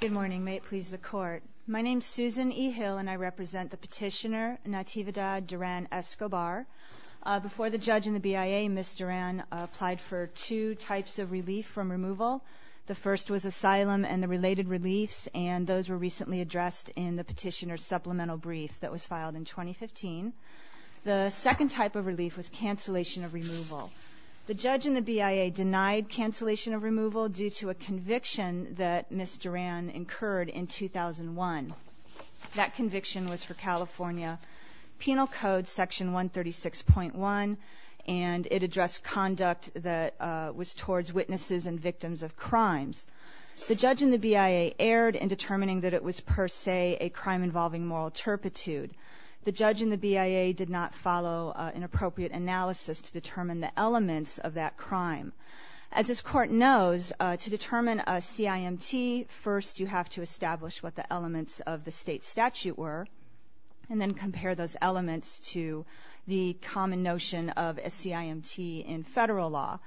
Good morning. May it please the Court. My name is Susan E. Hill and I represent the petitioner Natavidad Duran Escobar. Before the judge and the BIA, Ms. Duran applied for two types of relief from removal. The first was asylum and the related reliefs, and those were recently addressed in the petitioner's supplemental brief that was filed in 2015. The judge and the BIA denied cancellation of removal due to a conviction that Ms. Duran incurred in 2001. That conviction was for California Penal Code Section 136.1, and it addressed conduct that was towards witnesses and victims of crimes. The judge and the BIA erred in determining that it was per se a crime involving moral turpitude. The judge and the BIA did not follow an appropriate analysis to determine the elements of that crime. As this Court knows, to determine a CIMT, first you have to establish what the elements of the state statute were and then compare those elements to the common notion of a CIMT in federal law.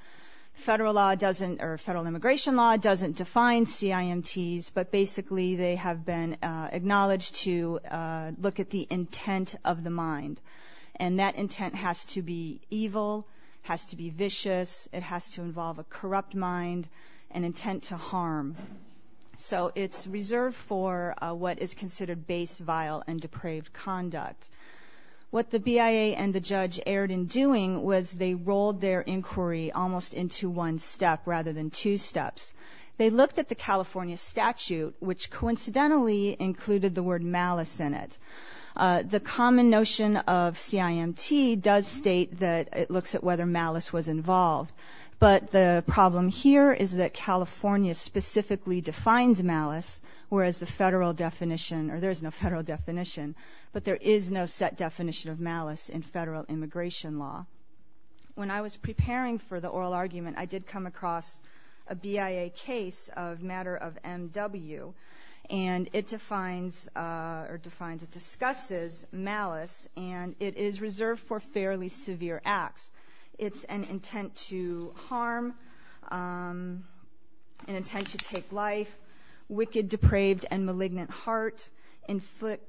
Federal law doesn't, or federal immigration law doesn't define CIMTs, but basically they have been acknowledged to look at the intent of the mind, and that intent has to be evil, has to be vicious, it has to involve a corrupt mind, and intent to harm. So it's reserved for what is considered base, vile, and depraved conduct. What the BIA and the judge erred in doing was they rolled their inquiry almost into one step rather than two steps. They looked at the California statute, which coincidentally included the word malice in it. The common notion of CIMT does state that it looks at whether malice was involved, but the problem here is that California specifically defines malice, whereas the federal definition, or there is no federal definition, but there is no set definition of malice in federal immigration law. When I was preparing for the oral argument, I did come across a BIA case of matter of MW, and it defines, or defines, it discusses malice, and it is reserved for fairly severe acts. It's an intent to harm, an intent to take life, wicked, depraved, and malignant heart,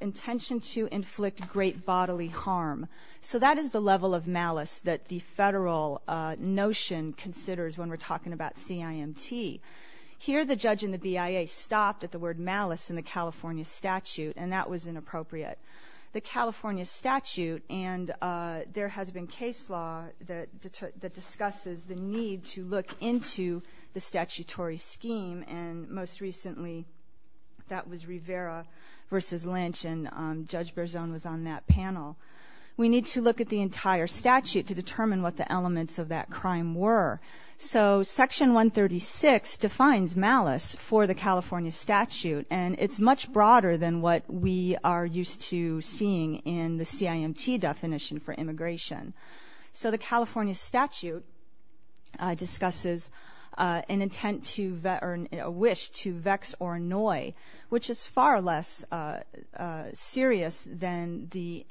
intention to inflict great bodily harm. So that is the level of malice that the federal notion considers when we're talking about CIMT. Here the judge and the BIA stopped at the word malice in the California statute, and that was inappropriate. The California statute, and there has been case law that discusses the need to look into the statutory scheme, and most recently that was Rivera v. Lynch, and Judge Berzon was on that panel. We need to look at the entire statute to determine what the elements of that crime were. So Section 136 defines malice for the California statute, and it's much broader than what we are used to seeing in the CIMT definition for immigration. So the California statute discusses an intent to, or a wish to vex or annoy, which is far less serious than the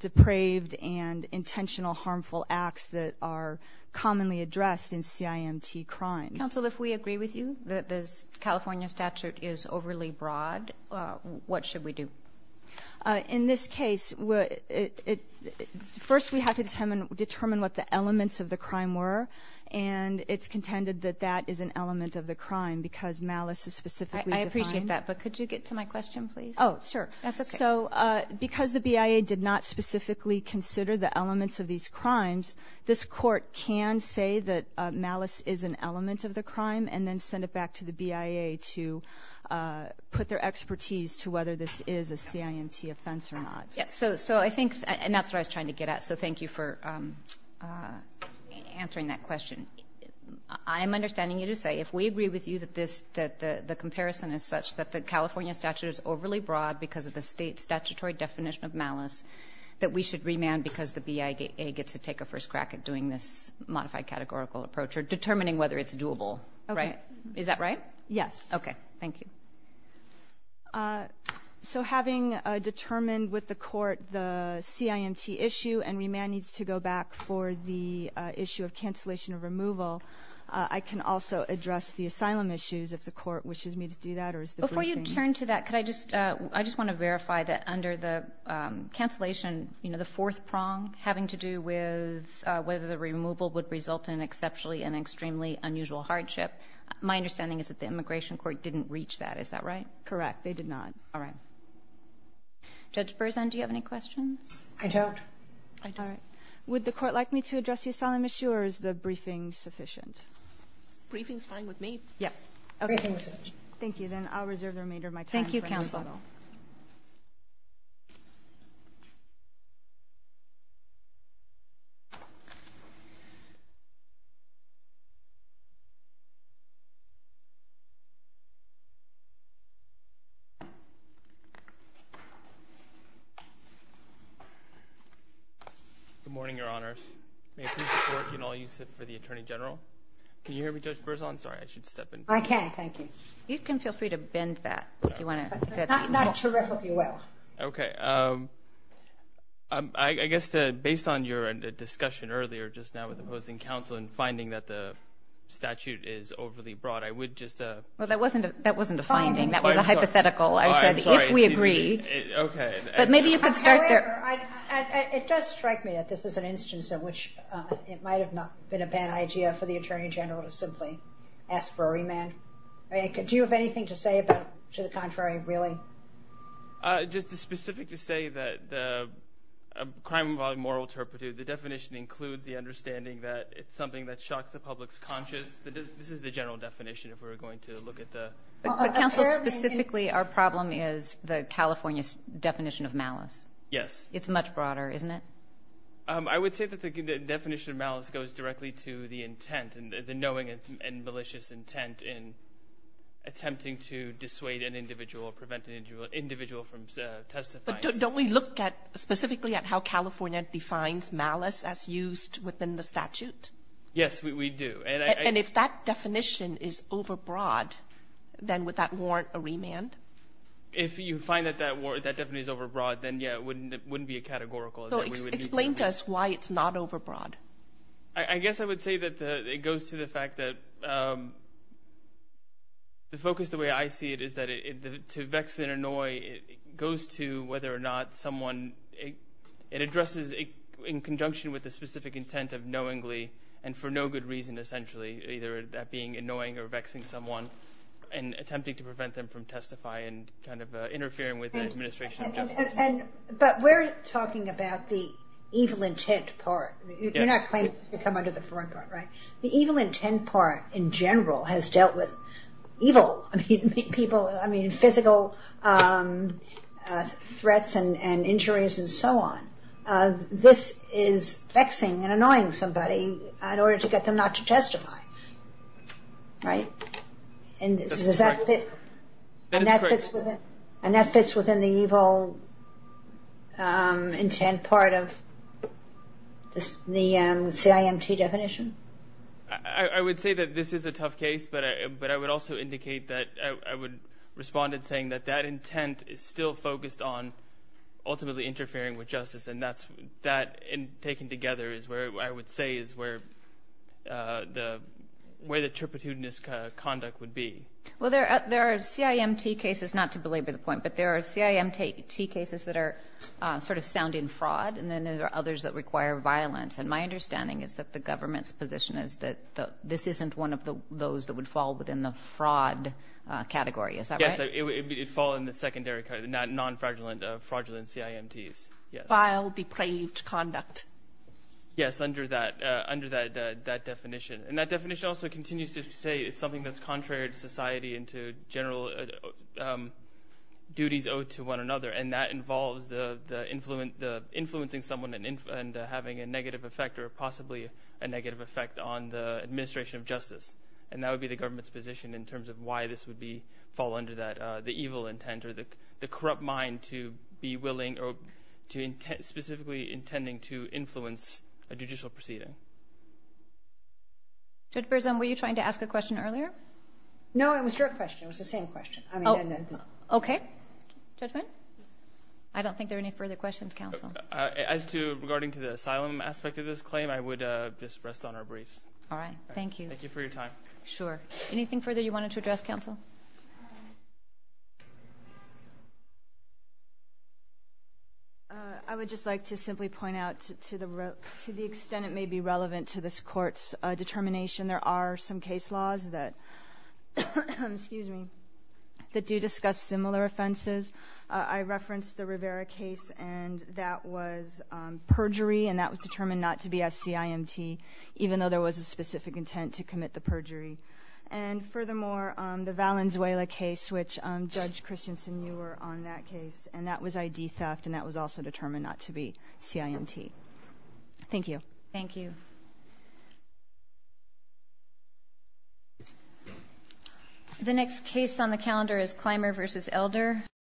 depraved and intentional harmful acts that are commonly addressed in CIMT crimes. Counsel, if we agree with you that this California statute is overly broad, what should we do? In this case, first we have to determine what the elements of the crime were, and it's contended that that is an element of the crime because malice is specifically defined. I appreciate that, but could you get to my question, please? Oh, sure. That's okay. So because the BIA did not specifically consider the elements of these crimes, this Court can say that malice is an element of the crime and then send it back to the BIA to put their expertise to whether this is a CIMT offense or not. So I think, and that's what I was trying to get at, so thank you for answering that question. I am understanding you to say if we agree with you that this, that the comparison is such that the California statute is overly broad because of the State statutory definition of malice, that we should remand because the BIA gets to take a first crack at doing this modified categorical approach or determining whether it's doable. Okay. Is that right? Yes. Okay. Thank you. So having determined with the Court the CIMT issue and remand needs to go back for the issue of cancellation of removal, I can also address the asylum issues if the Court wishes me to do that or is the briefing... Before you turn to that, could I just, I just want to verify that under the cancellation, you know, the fourth prong having to do with whether the removal would result in exceptionally and extremely unusual hardship, my understanding is that the Immigration Court didn't reach that. Is that right? Correct. They did not. All right. Judge Berzan, do you have any questions? I don't. I don't. All right. Would the Court like me to address the asylum issue or is the briefing sufficient? Briefing is fine with me. Yes. Briefing is sufficient. Thank you. Thank you, Counsel. Thank you, Counsel. Thank you. Good morning, Your Honor. May it please the Court and all users for the Attorney General. Can you hear me, Judge Berzan? Sorry, I should step in. I can, thank you. You can feel free to bend that if you want to. Not terrific, if you will. Okay. I guess, based on your discussion earlier just now with opposing counsel and finding that the statute is overly broad, I would just... Well, that wasn't a finding. That was a hypothetical. I'm sorry. I said, if we agree. Okay. But maybe you could start there. However, it does strike me that this is an instance in which it might have not been a bad idea for the Attorney General to simply ask for a remand. Do you have anything to say about to the contrary, really? Just specific to say that the crime involving moral turpitude, the definition includes the understanding that it's something that shocks the public's conscience. This is the general definition if we were going to look at the... But, Counsel, specifically our problem is the California definition of malice. Yes. It's much broader, isn't it? I would say that the definition of malice goes directly to the intent and the knowing and malicious intent in attempting to dissuade an individual or prevent an individual from testifying. But don't we look specifically at how California defines malice as used within the statute? Yes, we do. And if that definition is overbroad, then would that warrant a remand? If you find that that definition is overbroad, then, yeah, it wouldn't be a categorical. Explain to us why it's not overbroad. I guess I would say that it goes to the fact that the focus, the way I see it is that to vex and annoy goes to whether or not someone addresses in conjunction with the specific intent of knowingly and for no good reason essentially, either that being annoying or vexing someone and attempting to prevent them from testifying and kind of interfering with the administration of justice. But we're talking about the evil intent part. You're not claiming to come under the foreign part, right? The evil intent part in general has dealt with evil people, I mean physical threats and injuries and so on. This is vexing and annoying somebody in order to get them not to testify, right? And does that fit? And that fits within the evil intent part of the CIMT definition? I would say that this is a tough case, but I would also indicate that I would respond in saying that that intent is still focused on ultimately interfering with justice, and that taken together is where I would say is where the intrepidness conduct would be. Well, there are CIMT cases, not to belabor the point, but there are CIMT cases that are sort of sounding fraud, and then there are others that require violence. And my understanding is that the government's position is that this isn't one of those that would fall within the fraud category. Is that right? Yes, it would fall in the secondary category, the non-fraudulent CIMTs. Vile, depraved conduct. Yes, under that definition. And that definition also continues to say it's something that's contrary to society and to general duties owed to one another, and that involves influencing someone and having a negative effect or possibly a negative effect on the administration of justice. And that would be the government's position in terms of why this would fall under the evil intent or the corrupt mind to be willing or specifically intending to influence a judicial proceeding. Judge Berzon, were you trying to ask a question earlier? No, it was your question. It was the same question. Okay. Judgment? I don't think there are any further questions, counsel. As to regarding to the asylum aspect of this claim, I would just rest on our briefs. All right. Thank you. Thank you for your time. Sure. Anything further you wanted to address, counsel? I would just like to simply point out to the extent it may be relevant to this Court's determination, there are some case laws that do discuss similar offenses. I referenced the Rivera case, and that was perjury, and that was determined not to be SCIMT, even though there was a specific intent to commit the perjury. And furthermore, the Valenzuela case, which Judge Christensen, you were on that case, and that was ID theft, and that was also determined not to be CIMT. Thank you. Thank you. The next case on the calendar is Clymer v. Elder.